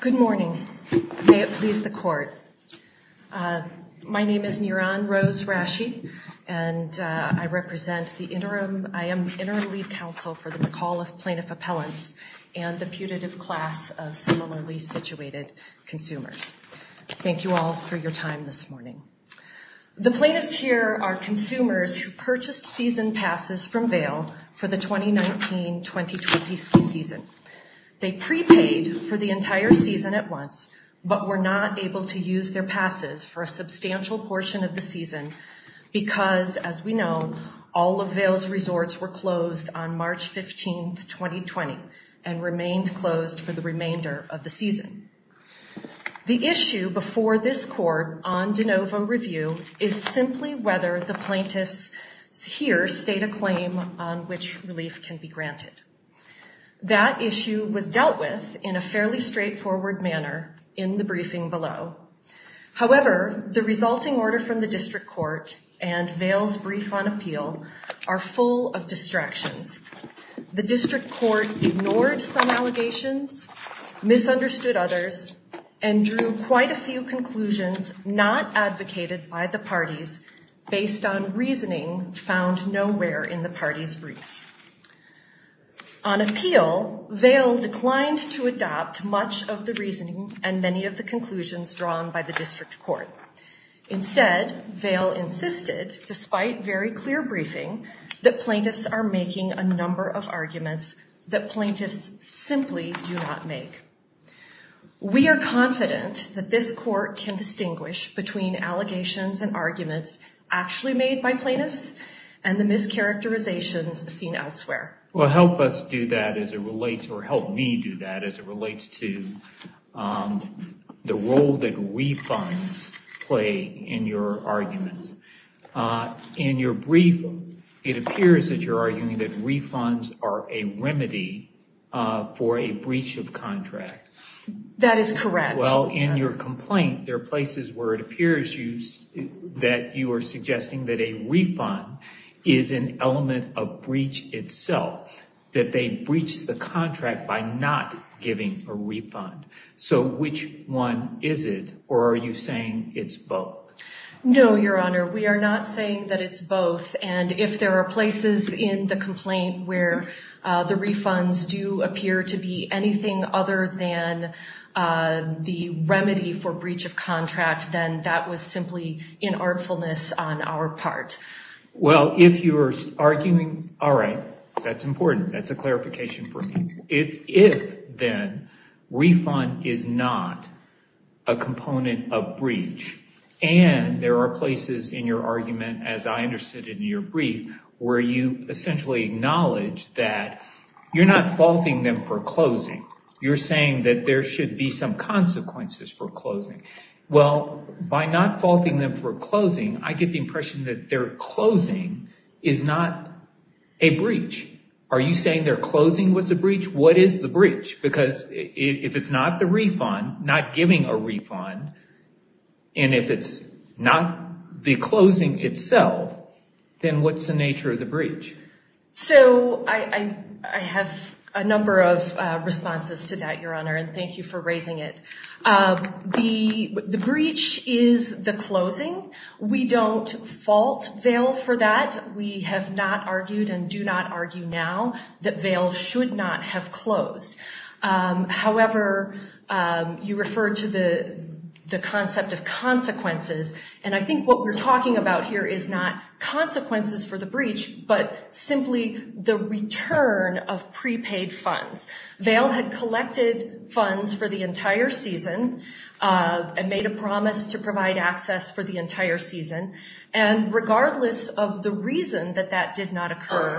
Good morning. May it please the court. My name is Niran Rose Rashi and I represent the interim, I am interim lead counsel for the McAuliffe plaintiff appellants and the putative class of similarly situated consumers. Thank you all for your time this morning. The plaintiffs here are consumers who purchased season prepaid for the entire season at once but were not able to use their passes for a substantial portion of the season because, as we know, all of Vail's resorts were closed on March 15, 2020 and remained closed for the remainder of the season. The issue before this court on de novo review is simply whether the plaintiffs here state a claim on which relief can be granted. That issue was dealt with in a fairly straightforward manner in the briefing below. However, the resulting order from the district court and Vail's brief on appeal are full of distractions. The district court ignored some allegations, misunderstood others, and drew quite a few conclusions not advocated by the parties based on to adopt much of the reasoning and many of the conclusions drawn by the district court. Instead, Vail insisted, despite very clear briefing, that plaintiffs are making a number of arguments that plaintiffs simply do not make. We are confident that this court can distinguish between allegations and arguments actually made by plaintiffs and the mischaracterizations seen elsewhere. Well, help us do that as it relates or help me do that as it relates to the role that refunds play in your argument. In your brief, it appears that you're arguing that refunds are a remedy for a breach of contract. That is correct. Well, in your complaint, there are places where it appears that you are element of breach itself, that they breached the contract by not giving a refund. So which one is it or are you saying it's both? No, Your Honor, we are not saying that it's both and if there are places in the complaint where the refunds do appear to be anything other than the remedy for breach of contract, then that was simply inartfulness on our part. Well, if you're arguing, all right, that's important. That's a clarification for me. If, then, refund is not a component of breach and there are places in your argument, as I understood in your brief, where you essentially acknowledge that you're not faulting them for closing. You're saying that there should be some consequences for closing. Well, by not faulting them for closing, I get the impression that their closing is not a breach. Are you saying their closing was a breach? What is the breach? Because if it's not the refund, not giving a refund, and if it's not the closing itself, then what's the nature of the breach? So, I have a number of responses to that, Your Honor, and thank you for raising it. The breach is the closing. We don't fault Vail for that. We have not argued and do not argue now that Vail should not have closed. However, you referred to the concept of consequences, and I think what we're talking about here is not consequences for the breach, but simply the return of prepaid funds. Vail had collected funds for the entire season and made a promise to provide access for the entire season, and regardless of the reason that that did not occur,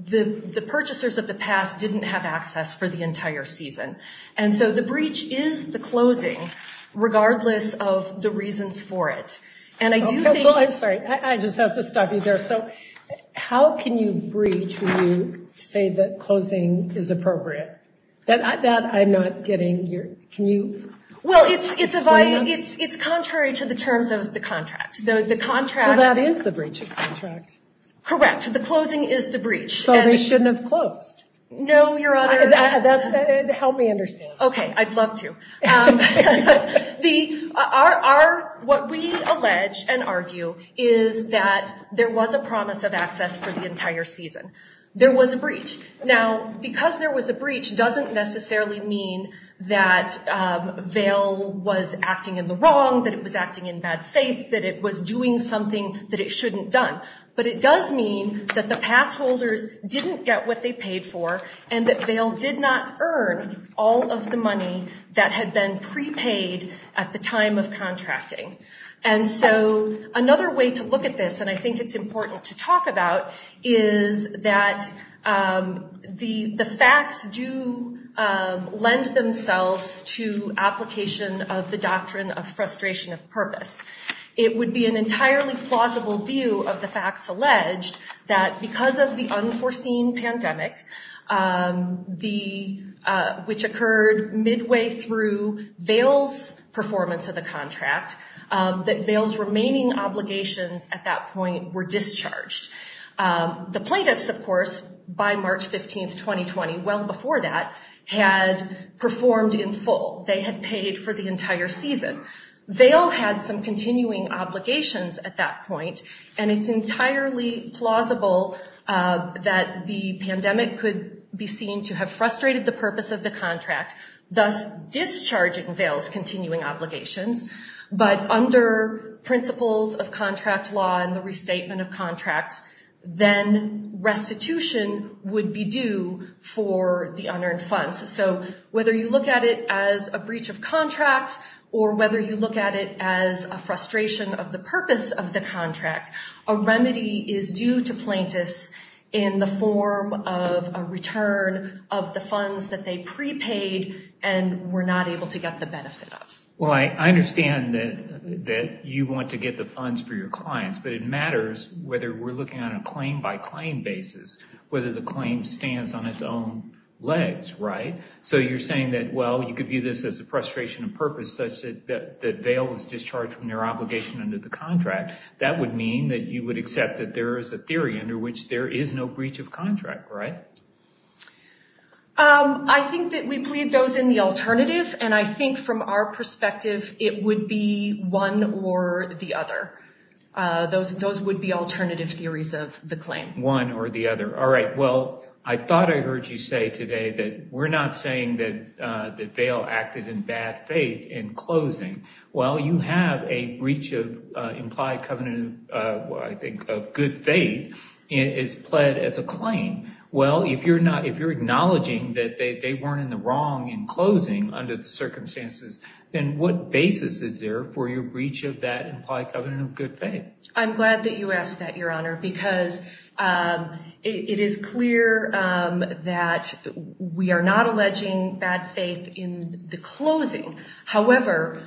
the purchasers of the pass didn't have access for the entire season, and so the breach is the closing, regardless of the reasons for it. I'm sorry, I just have to stop you there. So, how can you breach when you say that closing is appropriate? That I'm not getting. Can you explain that? Well, it's contrary to the terms of the contract. So, that is the breach of contract? Correct. The closing is the breach. So, they shouldn't have closed? No, Your Honor. Help me understand. Okay, I'd What we allege and argue is that there was a promise of access for the entire season. There was a breach. Now, because there was a breach doesn't necessarily mean that Vail was acting in the wrong, that it was acting in bad faith, that it was doing something that it shouldn't done, but it does mean that the passholders didn't get what they paid for, and that Vail did not earn all of the money that had been prepaid at the time of contracting. And so, another way to look at this, and I think it's important to talk about, is that the facts do lend themselves to application of the doctrine of frustration of purpose. It would be an entirely plausible view of the facts alleged that because of the unforeseen pandemic, which occurred midway through Vail's performance of the contract, that Vail's remaining obligations at that point were discharged. The plaintiffs, of course, by March 15th, 2020, well before that, had performed in full. They had paid for the entire season. Vail had some continuing obligations at that point, and it's entirely plausible that the pandemic could be seen to have frustrated the purpose of the contract, thus discharging Vail's continuing obligations, but under principles of contract law and the restatement of contracts, then restitution would be due for the unearned funds. So, whether you look at it as a breach of contract, or whether you look at it as a frustration of the purpose of the contract, a remedy is due to plaintiffs in the form of a return of the funds that they prepaid and were not able to get the benefit of. Well, I understand that you want to get the funds for your clients, but it matters whether we're looking on a claim by claim basis, whether the claim stands on its own legs, right? So, you're saying that, well, you could view this as a frustration of purpose, such that Vail was discharged from their obligation under the contract. That would mean that you would accept that there is a theory under which there is no breach of contract, right? I think that we plead those in the alternative, and I think from our perspective, it would be one or the other. Those would be alternative theories of the claim. One or the other. All right, well, I thought I was going to say today that we're not saying that Vail acted in bad faith in closing. Well, you have a breach of implied covenant, I think, of good faith is pled as a claim. Well, if you're acknowledging that they weren't in the wrong in closing under the circumstances, then what basis is there for your breach of that implied covenant of good faith? I'm glad that you made it clear that we are not alleging bad faith in the closing. However,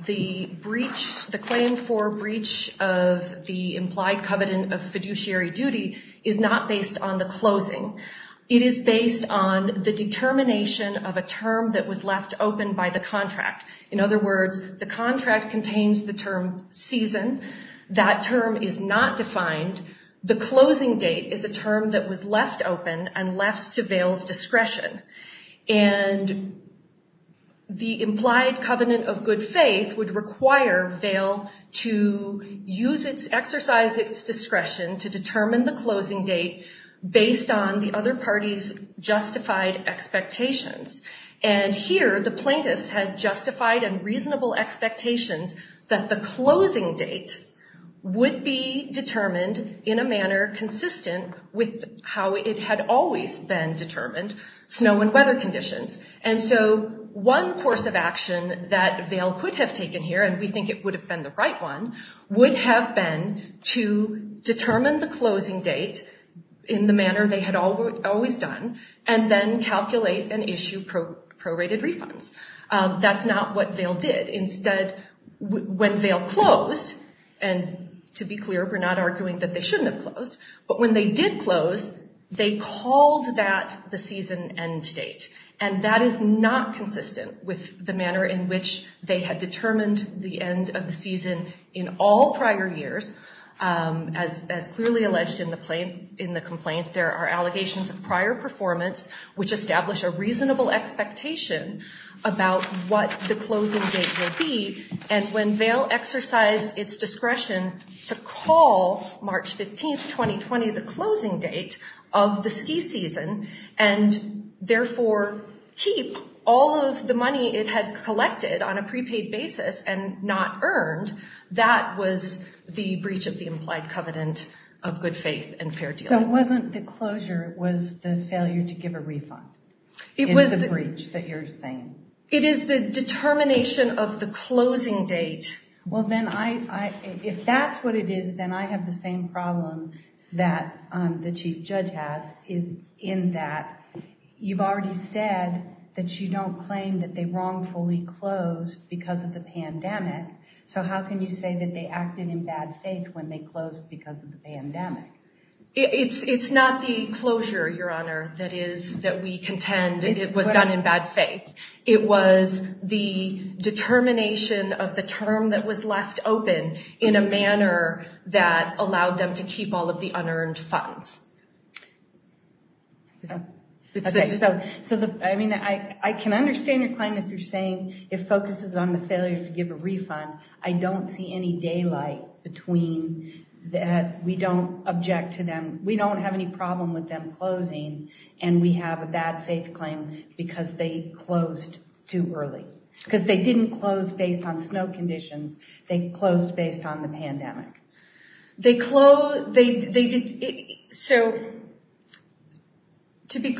the breach, the claim for breach of the implied covenant of fiduciary duty is not based on the closing. It is based on the determination of a term that was left open by the contract. In other words, the contract contains the term season. That term is not defined. The closing date is a term that was left open and left to Vail's discretion. And the implied covenant of good faith would require Vail to exercise its discretion to determine the closing date based on the other party's justified expectations. And here, the plaintiffs had would be determined in a manner consistent with how it had always been determined, snow and weather conditions. And so one course of action that Vail could have taken here, and we think it would have been the right one, would have been to determine the closing date in the manner they had always done and then calculate and issue prorated refunds. That's not what Vail did. Instead, when Vail closed, and to be clear, we're not arguing that they shouldn't have closed, but when they did close, they called that the season end date. And that is not consistent with the manner in which they had determined the end of the season in all prior years. As clearly alleged in the complaint, there are allegations of prior performance which establish a reasonable expectation about what the closing date will be. And when Vail exercised its discretion to call March 15th, 2020, the closing date of the ski season and therefore keep all of the money it had collected on a prepaid basis and not earned, that was the breach of the implied covenant of good faith and fair deal. So it wasn't the closure, it was the failure to give a refund. It was a breach that you're saying. It is the determination of the closing date. Well then, if that's what it is, then I have the same problem that the Chief Judge has, is in that you've already said that you don't claim that they wrongfully closed because of the pandemic, so how can you say that they acted in bad faith when they closed because of the pandemic? It's not the closure, Your Honor, that is that we contend it was done in bad faith. It was the determination of the term that was left open in a manner that allowed them to keep all of the unearned funds. So, I mean, I can understand your claim if you're saying it focuses on the failure to give a refund. I don't see any daylight between that we don't object to them, we don't have any problem with them closing, and we have a bad faith claim because they closed too early. Because they didn't close based on snow conditions, they closed based on the pandemic. They closed, so to be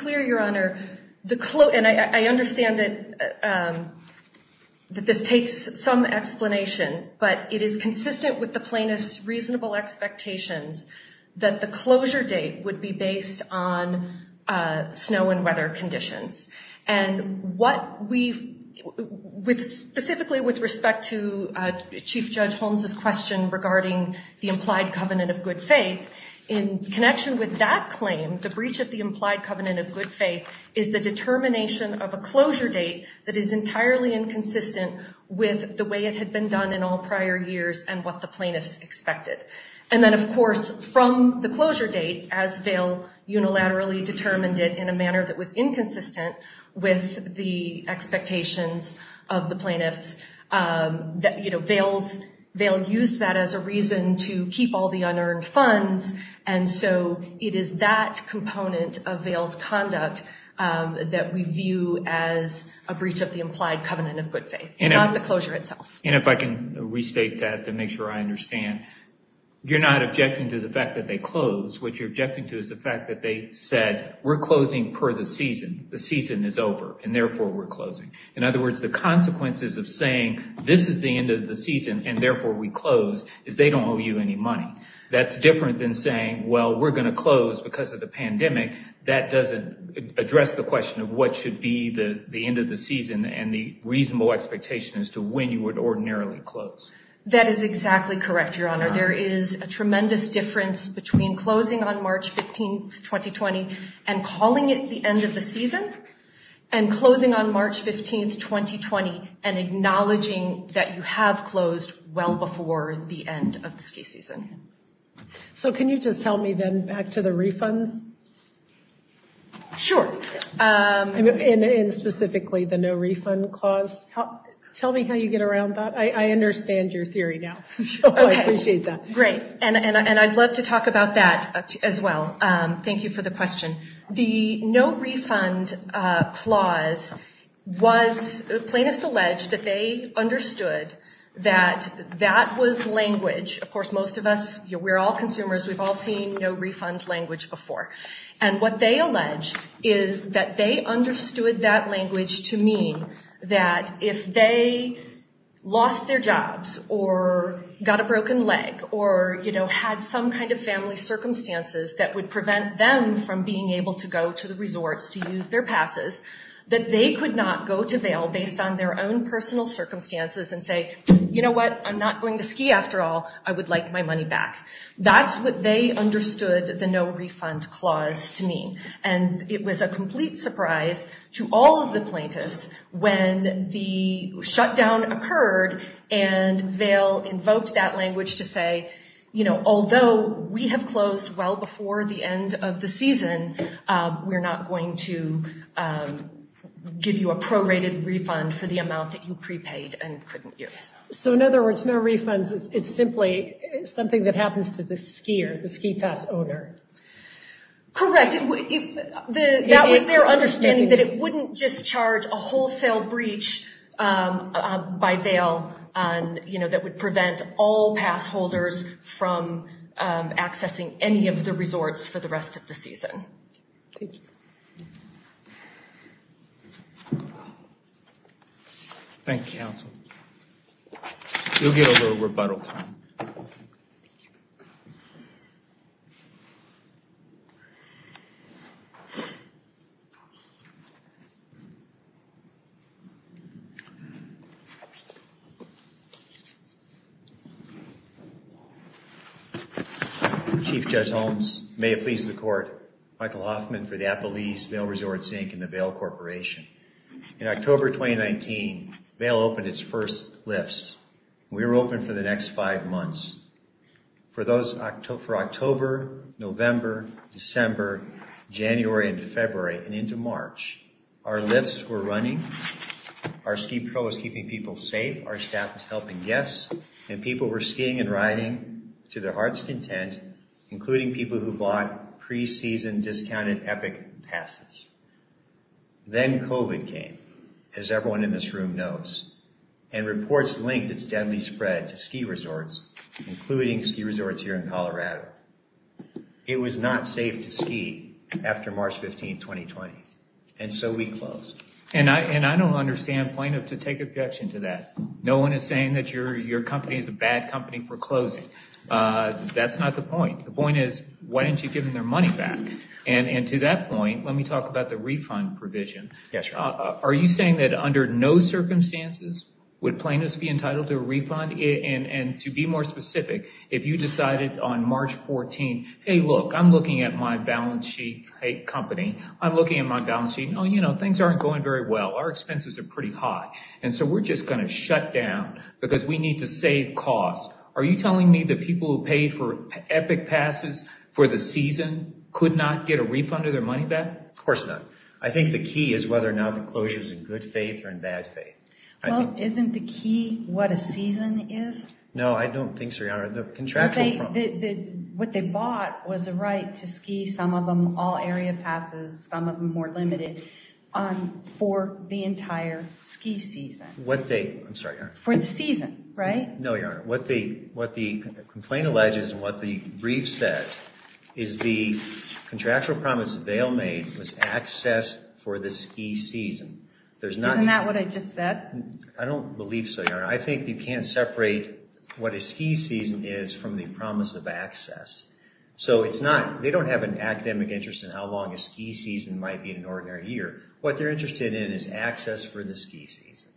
some explanation, but it is consistent with the plaintiff's reasonable expectations that the closure date would be based on snow and weather conditions. And what we've, specifically with respect to Chief Judge Holmes's question regarding the implied covenant of good faith, in connection with that claim, the breach of the implied covenant of good faith is the determination of a closure date that is entirely inconsistent with the way it had been done in all prior years and what the plaintiffs expected. And then, of course, from the closure date, as Vail unilaterally determined it in a manner that was inconsistent with the expectations of the plaintiffs, that, you know, Vail used that as a reason to keep all the unearned funds, and so it is that component of Vail's conduct that we view as a breach of the implied covenant of good faith, not the closure itself. And if I can restate that to make sure I understand, you're not objecting to the fact that they closed. What you're objecting to is the fact that they said, we're closing per the season. The season is over, and therefore we're closing. In other words, the consequences of saying, this is the end of the season, and therefore we close, is they don't owe you any money. That's different than saying, well, we're going to close because of the pandemic. That doesn't address the question of what should be the end of the season and the reasonable expectation as to when you would ordinarily close. That is exactly correct, Your Honor. There is a tremendous difference between closing on March 15, 2020, and calling it the end of the season, and closing on March 15, 2020, and acknowledging that you have closed well before the end of the ski season. So can you just tell me then back to the refunds? Sure. And specifically the no refund clause. Tell me how you get around that. I understand your theory now. I appreciate that. Great. And I'd love to talk about that as well. Thank you for the question. The no refund clause was, plaintiffs alleged that they understood that that was language. Of course, most of us, we're all consumers, we've all seen no refund language before. And what they allege is that they understood that language to mean that if they lost their jobs, or got a broken leg, or had some kind of family circumstances that would prevent them from being able to go to the resorts to use their passes, that they could not go to bail based on their own personal circumstances and say, you know what, I'm not going to ski after all, I would like my money back. That's what they understood the no refund clause to mean. And it was a complete surprise to all of the plaintiffs when the shutdown occurred. And they'll invoke that language to say, you know, although we have closed well before the end of the season, we're not going to give you a refund that you need and couldn't use. So in other words, no refunds, it's simply something that happens to the skier, the ski pass owner. Correct. That was their understanding that it wouldn't discharge a wholesale breach by bail, you know, that would prevent all pass holders from accessing any of the resorts for the rest of the season. Thank you counsel. You'll get a little rebuttal time. Chief Judge Holmes, may it please the court. Michael Hoffman for the Appalese Bail Resort Sink and the Bail Corporation. In October 2019, bail opened its first lifts. We were open for the next five months. For October, November, December, January, and February, and into March, our lifts were running, our SkiPro was keeping people safe, our staff was helping guests, and people were skiing and riding to their heart's content, including people who bought pre-season discounted Epic passes. Then COVID came, as everyone in this room knows, and reports linked its deadly spread to ski resorts, including ski resorts here in Colorado. It was not safe to ski after March 15, 2020, and so we closed. And I don't understand plaintiff to take objection to that. No one is saying that your company is a bad company for closing. That's not the point. The point is, why didn't you give them their money back? And to that point, let circumstances, would plaintiffs be entitled to a refund? And to be more specific, if you decided on March 14, hey look, I'm looking at my balance sheet, hey company, I'm looking at my balance sheet, oh you know, things aren't going very well, our expenses are pretty high, and so we're just gonna shut down because we need to save costs. Are you telling me that people who paid for Epic passes for the season could not get a refund of their money back? Of course not. I think the key is whether or not the closure is in good faith or in bad faith. Well, isn't the key what a season is? No, I don't think so, Your Honor. What they bought was a right to ski, some of them all-area passes, some of them more limited, for the entire ski season. What they, I'm sorry. For the season, right? No, Your Honor. What the complaint alleges and what the ski season. Isn't that what I just said? I don't believe so, Your Honor. I think you can't separate what a ski season is from the promise of access. So it's not, they don't have an academic interest in how long a ski season might be in an ordinary year. What they're interested in is access for the ski season.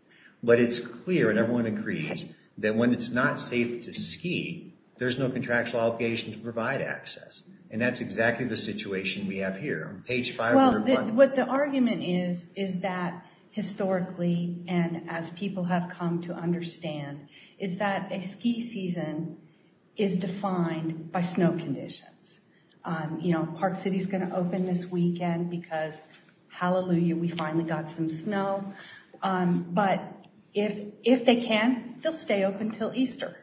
But it's clear, and everyone agrees, that when it's not safe to ski, there's no contractual obligation to provide access. And that's exactly the situation we have here on page 501. Well, what the argument is, is that historically, and as people have come to understand, is that a ski season is defined by snow conditions. You know, Park City is going to open this weekend because, hallelujah, we finally got some snow. But if they can, they'll stay open till Easter.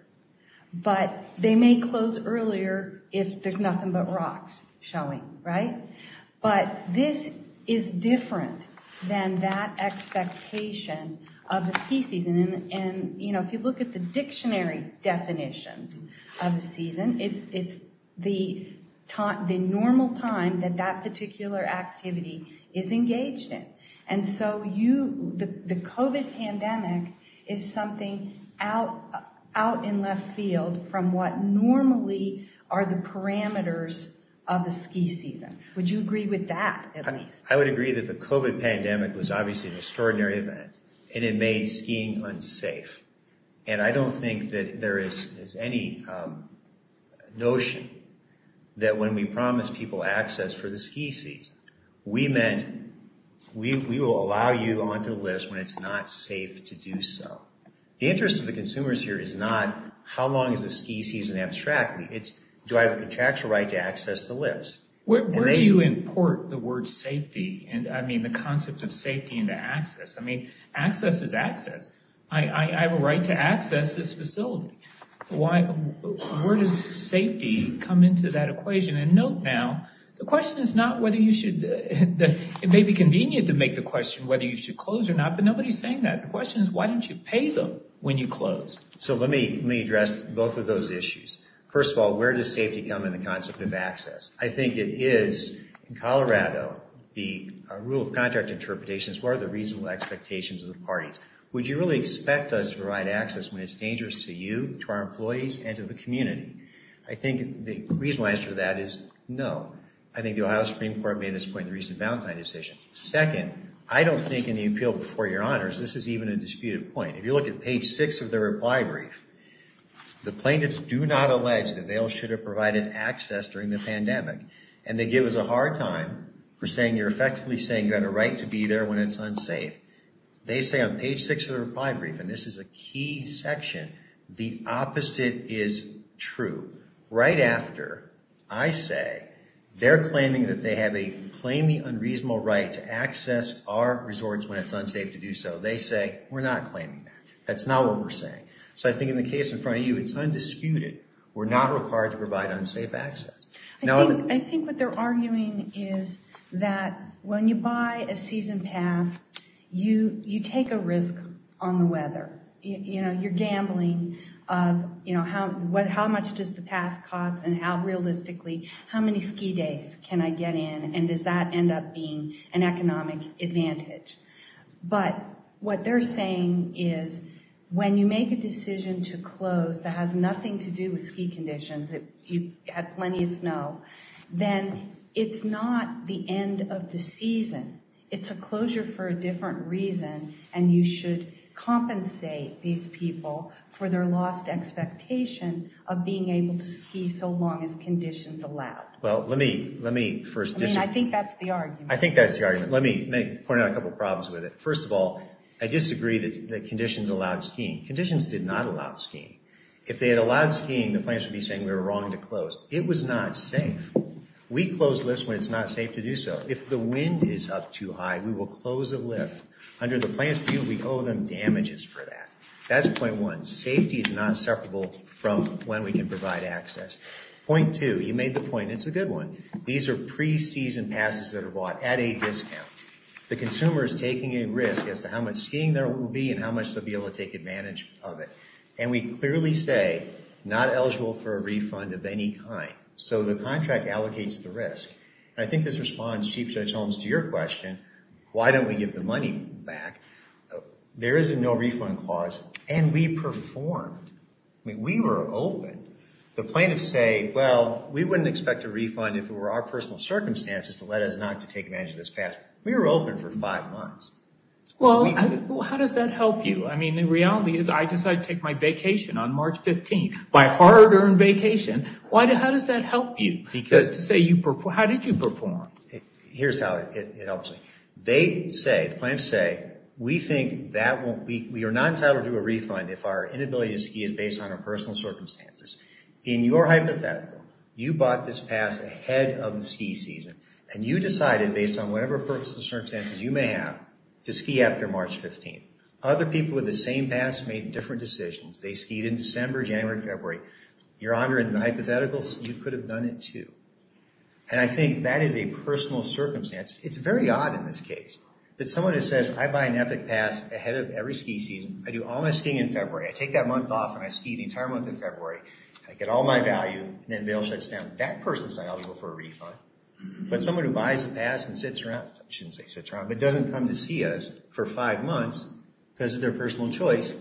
But they may close earlier if there's nothing but rocks showing, right? But this is different than that expectation of the ski season. And, you know, if you look at the dictionary definitions of the season, it's the normal time that that particular activity is engaged in. And so you, the COVID pandemic is something out in left field from what normally are the parameters of the ski season. Would you agree with that? I would agree that the COVID pandemic was obviously an extraordinary event, and it made skiing unsafe. And I don't think that there is any notion that when we promised people access for the ski season, we meant we will allow you onto the list when it's not safe to do so. The interest of the consumers here is not, how long is the ski season abstract? It's, do I have a contractual right to access the list? Where do you import the word safety? And I mean, the concept of safety into access. I mean, access is access. I have a right to access this facility. Why, where does safety come into that equation? And note now, the question is not whether you should, it may be convenient to make the question whether you should close or not, but nobody's saying that. The question is, why don't you pay them when you close? So let me address both of those issues. First of all, where does safety come in the concept of access? I think it is in Colorado, the rule of contract interpretations, what are the reasonable expectations of the parties? Would you really expect us to provide access when it's dangerous to you, to our employees and to the community? I think the reasonable answer to that is no. I think the Ohio Supreme Court made this point in the recent Valentine decision. Second, I don't think in the appeal before your honors, this is even a disputed point. If you look at page six of the reply brief, the plaintiffs do not allege that they all should have provided access during the pandemic. And they give us a hard time for saying you're effectively saying you've got a right to be there when it's unsafe. They say on page six of the reply brief, and this is a key section, the opposite is true. Right after I say they're claiming that they have a claiming unreasonable right to access our resorts when it's dangerous, they're not claiming that. That's not what we're saying. So I think in the case in front of you, it's undisputed. We're not required to provide unsafe access. I think what they're arguing is that when you buy a season pass, you take a risk on the weather. You're gambling of how much does the pass cost and how realistically, how many ski days can I get in? And does that end up being an incentive? What they're arguing is when you make a decision to close that has nothing to do with ski conditions, if you had plenty of snow, then it's not the end of the season. It's a closure for a different reason. And you should compensate these people for their lost expectation of being able to ski so long as conditions allowed. Well, let me first disagree. I think that's the argument. I think that's the argument. Let me point out a couple of problems with it. First of all, I disagree that conditions allowed skiing. Conditions did not allow skiing. If they had allowed skiing, the plan should be saying we were wrong to close. It was not safe. We close lifts when it's not safe to do so. If the wind is up too high, we will close a lift. Under the plan's view, we owe them damages for that. That's point one. Safety is not separable from when we can provide access. Point two, you made the point. It's a good one. These are as to how much skiing there will be and how much they'll be able to take advantage of it. And we clearly say not eligible for a refund of any kind. So the contract allocates the risk. And I think this responds, Chief Judge Holmes, to your question, why don't we give the money back? There is a no refund clause and we performed. I mean, we were open. The plaintiffs say, well, we wouldn't expect a refund if it were our personal circumstances that led us not to take advantage of this pass. We were open for five months. Well, how does that help you? I mean, the reality is I decided to take my vacation on March 15th. My hard-earned vacation. Why? How does that help you? Because to say you performed, how did you perform? Here's how it helps me. They say, the plaintiffs say, we think that won't be, we are not entitled to a refund if our inability to ski is based on our personal circumstances. In your hypothetical, you bought this pass ahead of the ski season and you decided, based on whatever purpose and circumstances you may have, to ski after March 15th. Other people with the same pass made different decisions. They skied in December, January, February. Your Honor, in the hypothetical, you could have done it too. And I think that is a personal circumstance. It's very odd in this case that someone who says, I buy an Epic Pass ahead of every ski season. I do all my skiing in February. I take that month off and I ski the entire month in February. I get all my value and then bail shuts down. That person's not eligible for a refund. But someone who buys a pass and sits around, I shouldn't say sits around, but doesn't come to see us for five months because of their personal choice,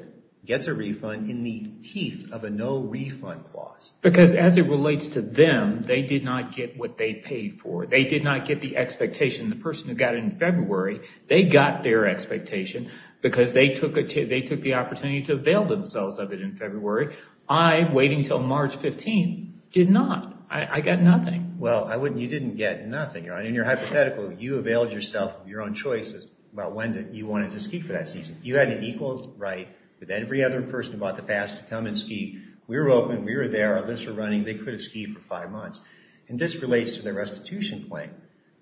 gets a refund in the teeth of a no refund clause. Because as it relates to them, they did not get what they paid for. They did not get the expectation. The person who got it in February, they got their expectation because they took the opportunity to avail themselves of it in July, waiting until March 15. Did not. I got nothing. Well, you didn't get nothing. In your hypothetical, you availed yourself of your own choices about when you wanted to ski for that season. You had an equal right with every other person who bought the pass to come and ski. We were open. We were there. Others were running. They could have skied for five months. And this relates to the restitution claim.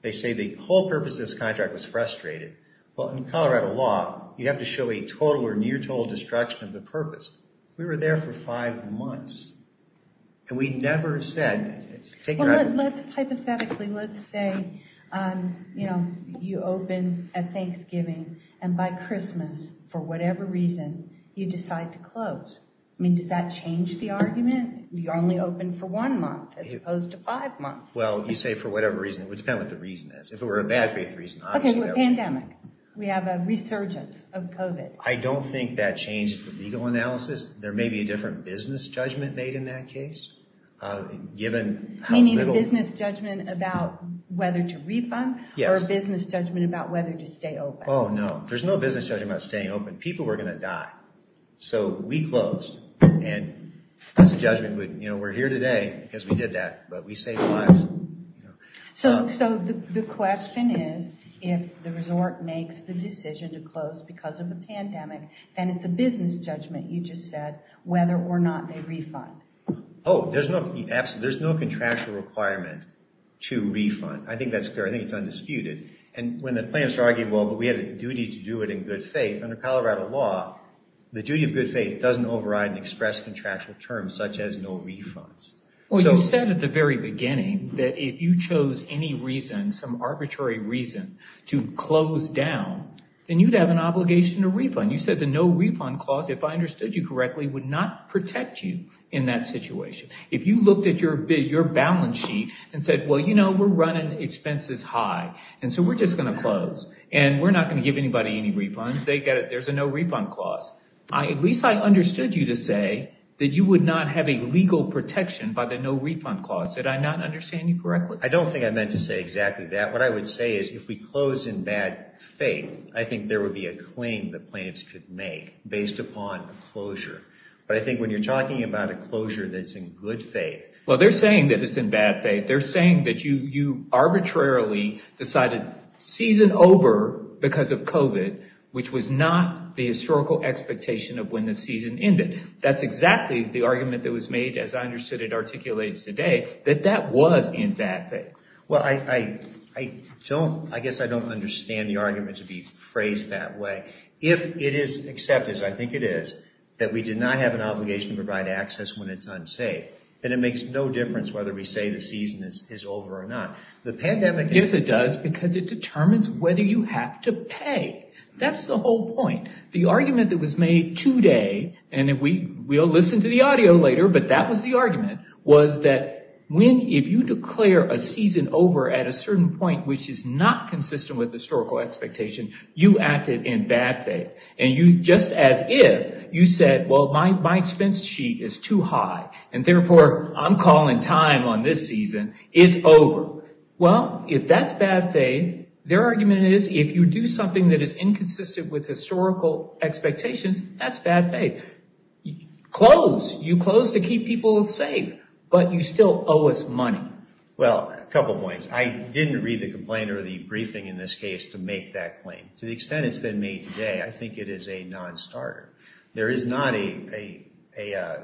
They say the whole purpose of this contract was frustrated. Well, in Colorado law, you have to show a total or near total destruction of the month. And we never said... Well, let's hypothetically, let's say, you know, you open at Thanksgiving and by Christmas, for whatever reason, you decide to close. I mean, does that change the argument? You're only open for one month as opposed to five months. Well, you say for whatever reason. It would depend on what the reason is. If it were a bad faith reason, obviously that would change. Okay, pandemic. We have a resurgence of COVID. I don't think that changed the legal analysis. There may be a different business judgment made in that case, given how little... Meaning a business judgment about whether to refund or a business judgment about whether to stay open. Oh, no. There's no business judgment about staying open. People were going to die. So we closed. And that's a judgment. You know, we're here today because we did that, but we saved lives. So the question is, if the resort makes the decision to close because of the pandemic, then it's a business judgment, you just said, whether or not they refund. Oh, there's no contractual requirement to refund. I think that's fair. I think it's undisputed. And when the plans are arguable, but we have a duty to do it in good faith, under Colorado law, the duty of good faith doesn't override and express contractual terms such as no refunds. Well, you said at the very beginning that if you chose any reason, some arbitrary reason to close down, then you'd have an obligation to refund. You said the no refund clause, if I understood you correctly, would not protect you in that situation. If you looked at your balance sheet and said, well, you know, we're running expenses high. And so we're just going to close and we're not going to give anybody any refunds. There's a no refund clause. At least I understood you to say that you would not have a legal protection by the no refund clause. Did I not understand you correctly? I don't think I meant to say exactly that. What I would say is if we close in bad faith, I think there would be a claim that plaintiffs could make based upon closure. But I think when you're talking about a closure that's in good faith. Well, they're saying that it's in bad faith. They're saying that you arbitrarily decided season over because of COVID, which was not the historical expectation of when the season ended. That's exactly the argument that was made, as I understood it articulated today, that that was in bad faith. Well, I don't I guess I don't understand the argument to be phrased that way. If it is accepted, as I think it is, that we do not have an obligation to provide access when it's unsafe, then it makes no difference whether we say the season is over or not. Yes, it does, because it determines whether you have to pay. That's the whole point. The argument that was made today, and we will listen to the audio later, but that was the argument, was that when if you declare a season over at a certain point, which is not consistent with the historical expectation, you acted in bad faith. And you just as if you said, well, my expense sheet is too high and therefore I'm calling time on this season. It's over. Well, if that's bad faith, their argument is if you do something that is inconsistent with historical expectations, that's bad faith. Close. You close to keep people safe, but you still owe us money. Well, a couple of points. I didn't read the complaint or the briefing in this case to make that claim. To the extent it's been made today, I think it is a nonstarter. There is not a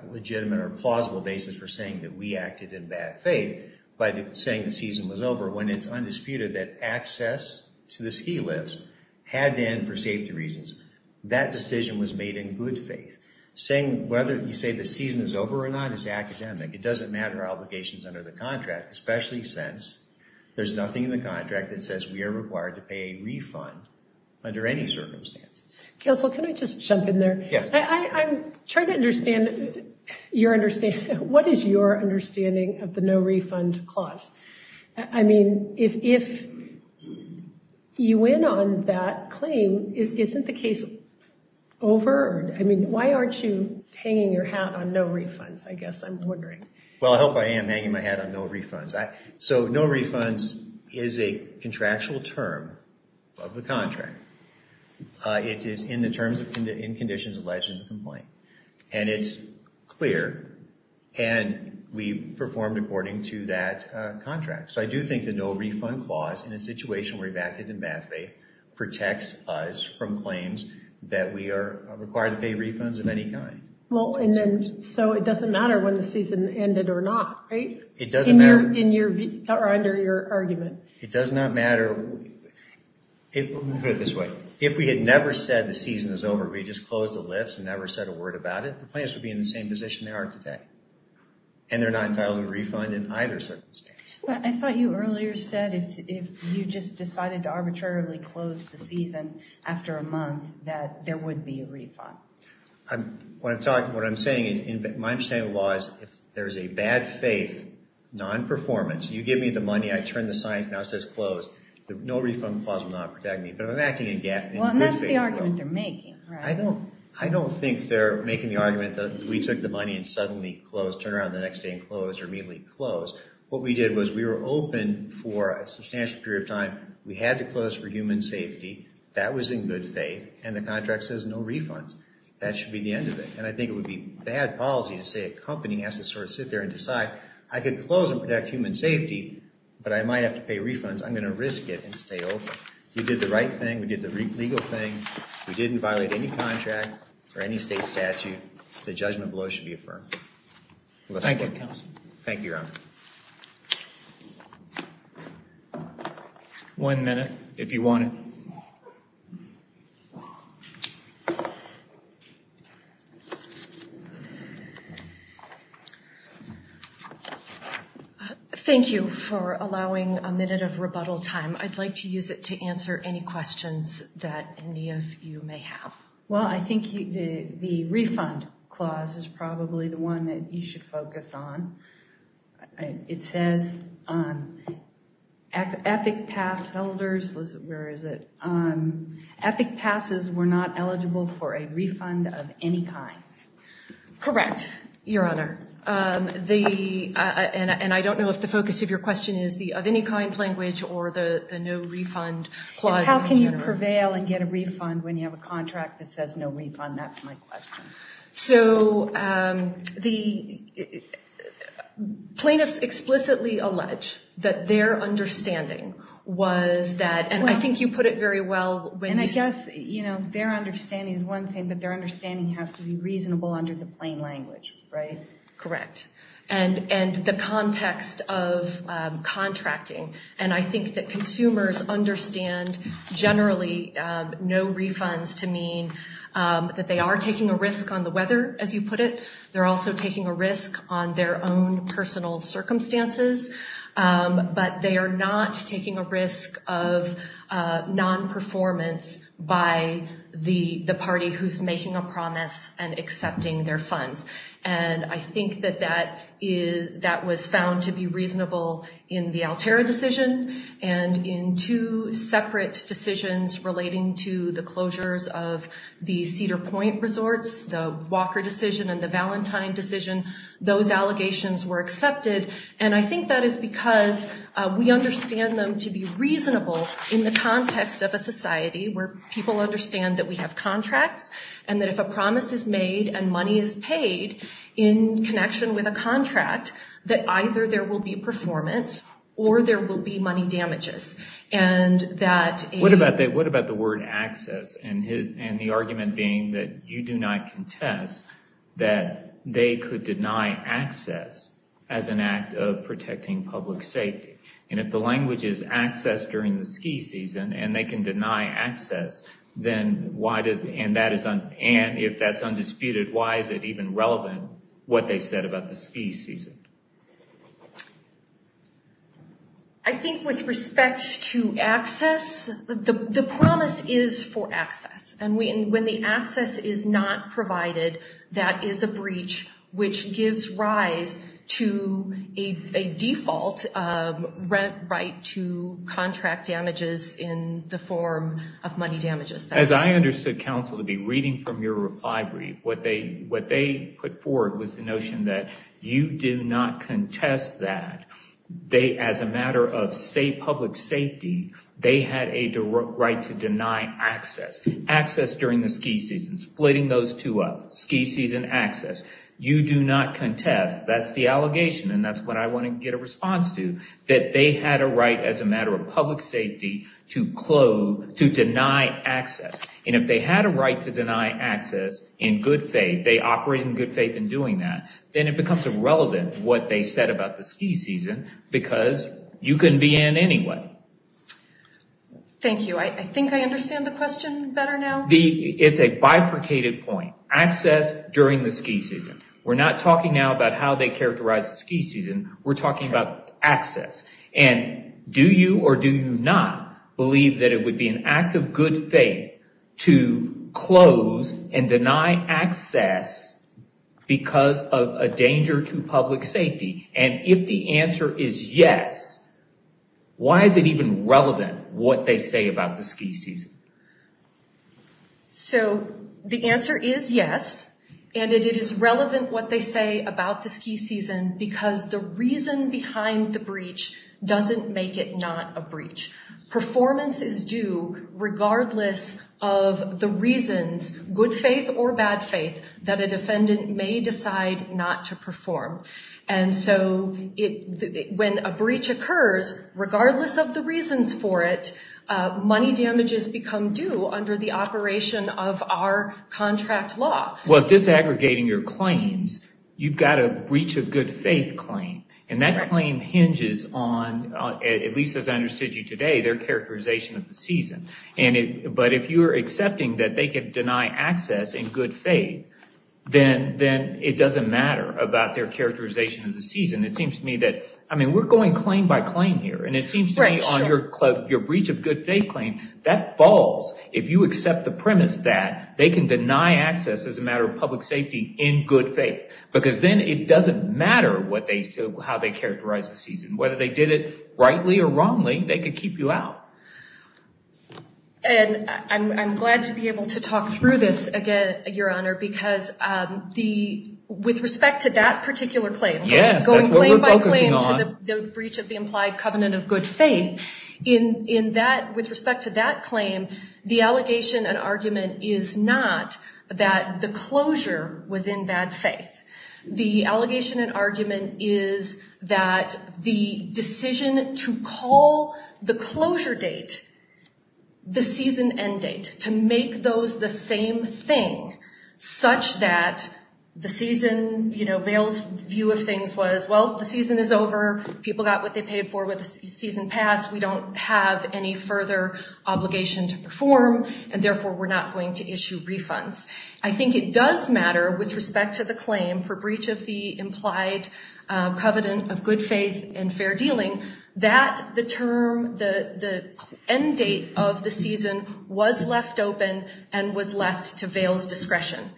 legitimate or plausible basis for saying that we acted in bad faith by saying the season was over when it's undisputed that access to the ski lifts had to end for safety reasons. That decision was made in good faith. Saying whether you say the season is over or not is academic. It doesn't matter obligations under the contract, especially since there's nothing in the contract that says we are required to pay a refund under any circumstances. Counsel, can I just jump in there? Yes. I'm trying to understand your understanding. What is your understanding of the no refund clause? I mean, if you win on that claim, isn't the case over? I mean, why aren't you hanging your hat on no refunds? I guess I'm wondering. Well, I hope I am hanging my hat on no refunds. So no refunds is a contractual term of the contract. It is in the terms and conditions alleged in the complaint. And it's clear. And we performed according to that contract. So I do think the no refund clause in a situation where you acted in bad faith protects us from claims that we are required to pay refunds of any kind. So it doesn't matter when the season ended or not, right? Under your argument. It does not matter. Let me put it this way. If we had never said the season is over, we just closed the lifts and never said a word about it, the plaintiffs would be in the same position they are today. And they're not entitled to a refund in either circumstance. I thought you earlier said if you just decided to arbitrarily close the season after a month that there would be a refund. What I'm saying is my understanding of the law is if there is a bad faith, non-performance, you give me the money, I turn the signs, now it says closed. The no refund clause will not protect me. But if I'm acting in good faith... Well, and that's the argument they're making, right? I don't think they're making the argument that we took the money and suddenly closed, turned around the next day and closed or immediately closed. What we did was we were open for a substantial period of time. We had to close for human safety. That was in good faith. And the contract says no refunds. That should be the end of it. And I think it would be bad policy to say a company has to sort of sit there and decide I could close and protect human safety, but I might have to pay refunds. I'm going to risk it and stay open. We did the right thing. We did the legal thing. We didn't violate any contract or any state statute. The judgment below should be affirmed. Thank you, Your Honor. One minute, if you want it. Thank you for allowing a minute of rebuttal time. I'd like to use it to answer any questions that any of you may have. Well, I think the refund clause is probably the one that you should focus on. It says EPIC pass holders, where is it? EPIC passes were not eligible for a refund of any kind. Correct, Your Honor. And I don't know if the focus of your question is the of any kind language or the no refund clause in general. You can't prevail and get a refund when you have a contract that says no refund, that's my question. So the plaintiffs explicitly allege that their understanding was that, and I think you put it very well. And I guess, you know, their understanding is one thing, but their understanding has to be reasonable under the plain language, right? Correct. And the context of contracting. And I think that consumers understand generally no refunds to mean that they are taking a risk on the weather, as you put it. They're also taking a risk on their own personal circumstances. But they are not taking a risk of non-performance by the party who's making a promise and accepting their funds. And I think that that was found to be reasonable in the Altera decision and in two separate decisions relating to the closures of the Cedar Point resorts, the Walker decision and the Valentine decision, those allegations were accepted. And I think that is because we understand them to be reasonable in the context of a society where people understand that we have contracts and that if a promise is made and money is paid in connection with a contract, that either there will be performance or there will be money damages. What about the word access and the argument being that you do not contest that they could deny access as an act of protecting public safety? And if the language is access during the ski season and they can deny access, and if that's undisputed, why is it even relevant what they said about the ski season? I think with respect to access, the promise is for access. And when the access is not provided, that is a breach which gives rise to a default right to contract damages in the form of money damages. As I understood counsel to be reading from your reply brief, what they put forward was the notion that you do not contest that. As a matter of public safety, they had a right to deny access. Access during the ski season, splitting those two up, ski season access. You do not contest, that's the allegation and that's what I want to get a response to, that they had a right as a matter of public safety to deny access. And if they had a right to deny access in good faith, they operate in good faith in doing that, then it becomes irrelevant what they said about the ski season because you can be in anyway. Thank you. I think I understand the question better now. It's a bifurcated point. Access during the ski season. We're not talking now about how they characterize the ski season, we're talking about access. Do you or do you not believe that it would be an act of good faith to close and deny access because of a danger to public safety? If the answer is yes, why is it even relevant what they say about the ski season? So the answer is yes, and it is relevant what they say about the ski season because the reason behind the breach doesn't make it not a breach. Performance is due regardless of the reasons, good faith or bad faith, that a defendant may decide not to perform. And so when a breach occurs, regardless of the reasons for it, money damages become due under the operation of our contract law. Well, disaggregating your claims, you've got a breach of good faith claim, and that claim hinges on, at least as I understood you today, their characterization of the season. But if you're accepting that they could deny access in good faith, then it doesn't matter about their characterization of the season. It seems to me that, I mean, we're going claim by claim here, and it seems to me on your breach of good faith claim, that falls. If you accept the premise that they can deny access as a matter of public safety in good faith, because then it doesn't matter how they characterize the season. Whether they did it rightly or wrongly, they could keep you out. And I'm glad to be able to talk through this again, Your Honor, because with respect to that particular claim, going claim by claim to the breach of the implied covenant of good faith, with respect to that claim, the allegation and argument is not that the closure was in bad faith. The allegation and argument is that the decision to call the closure date the season end date, to make those the same thing, such that the season, you know, Veil's view of things was, well, the season is over, people got what they paid for with the season passed, we don't have any further obligation to perform, and therefore we're not going to issue refunds. I think it does matter with respect to the claim for breach of the implied covenant of good faith and fair dealing, that the term, the end date of the season was left open and was left to Veil's discretion.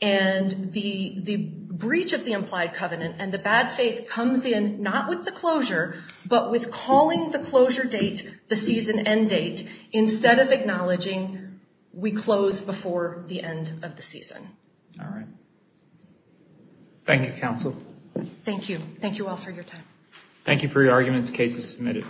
And the breach of the implied covenant and the bad faith comes in not with the closure, but with calling the closure date the season end date, instead of acknowledging we closed before the end of the season. All right. Thank you, counsel. Thank you. Thank you all for your time. Thank you for your arguments. Case is submitted.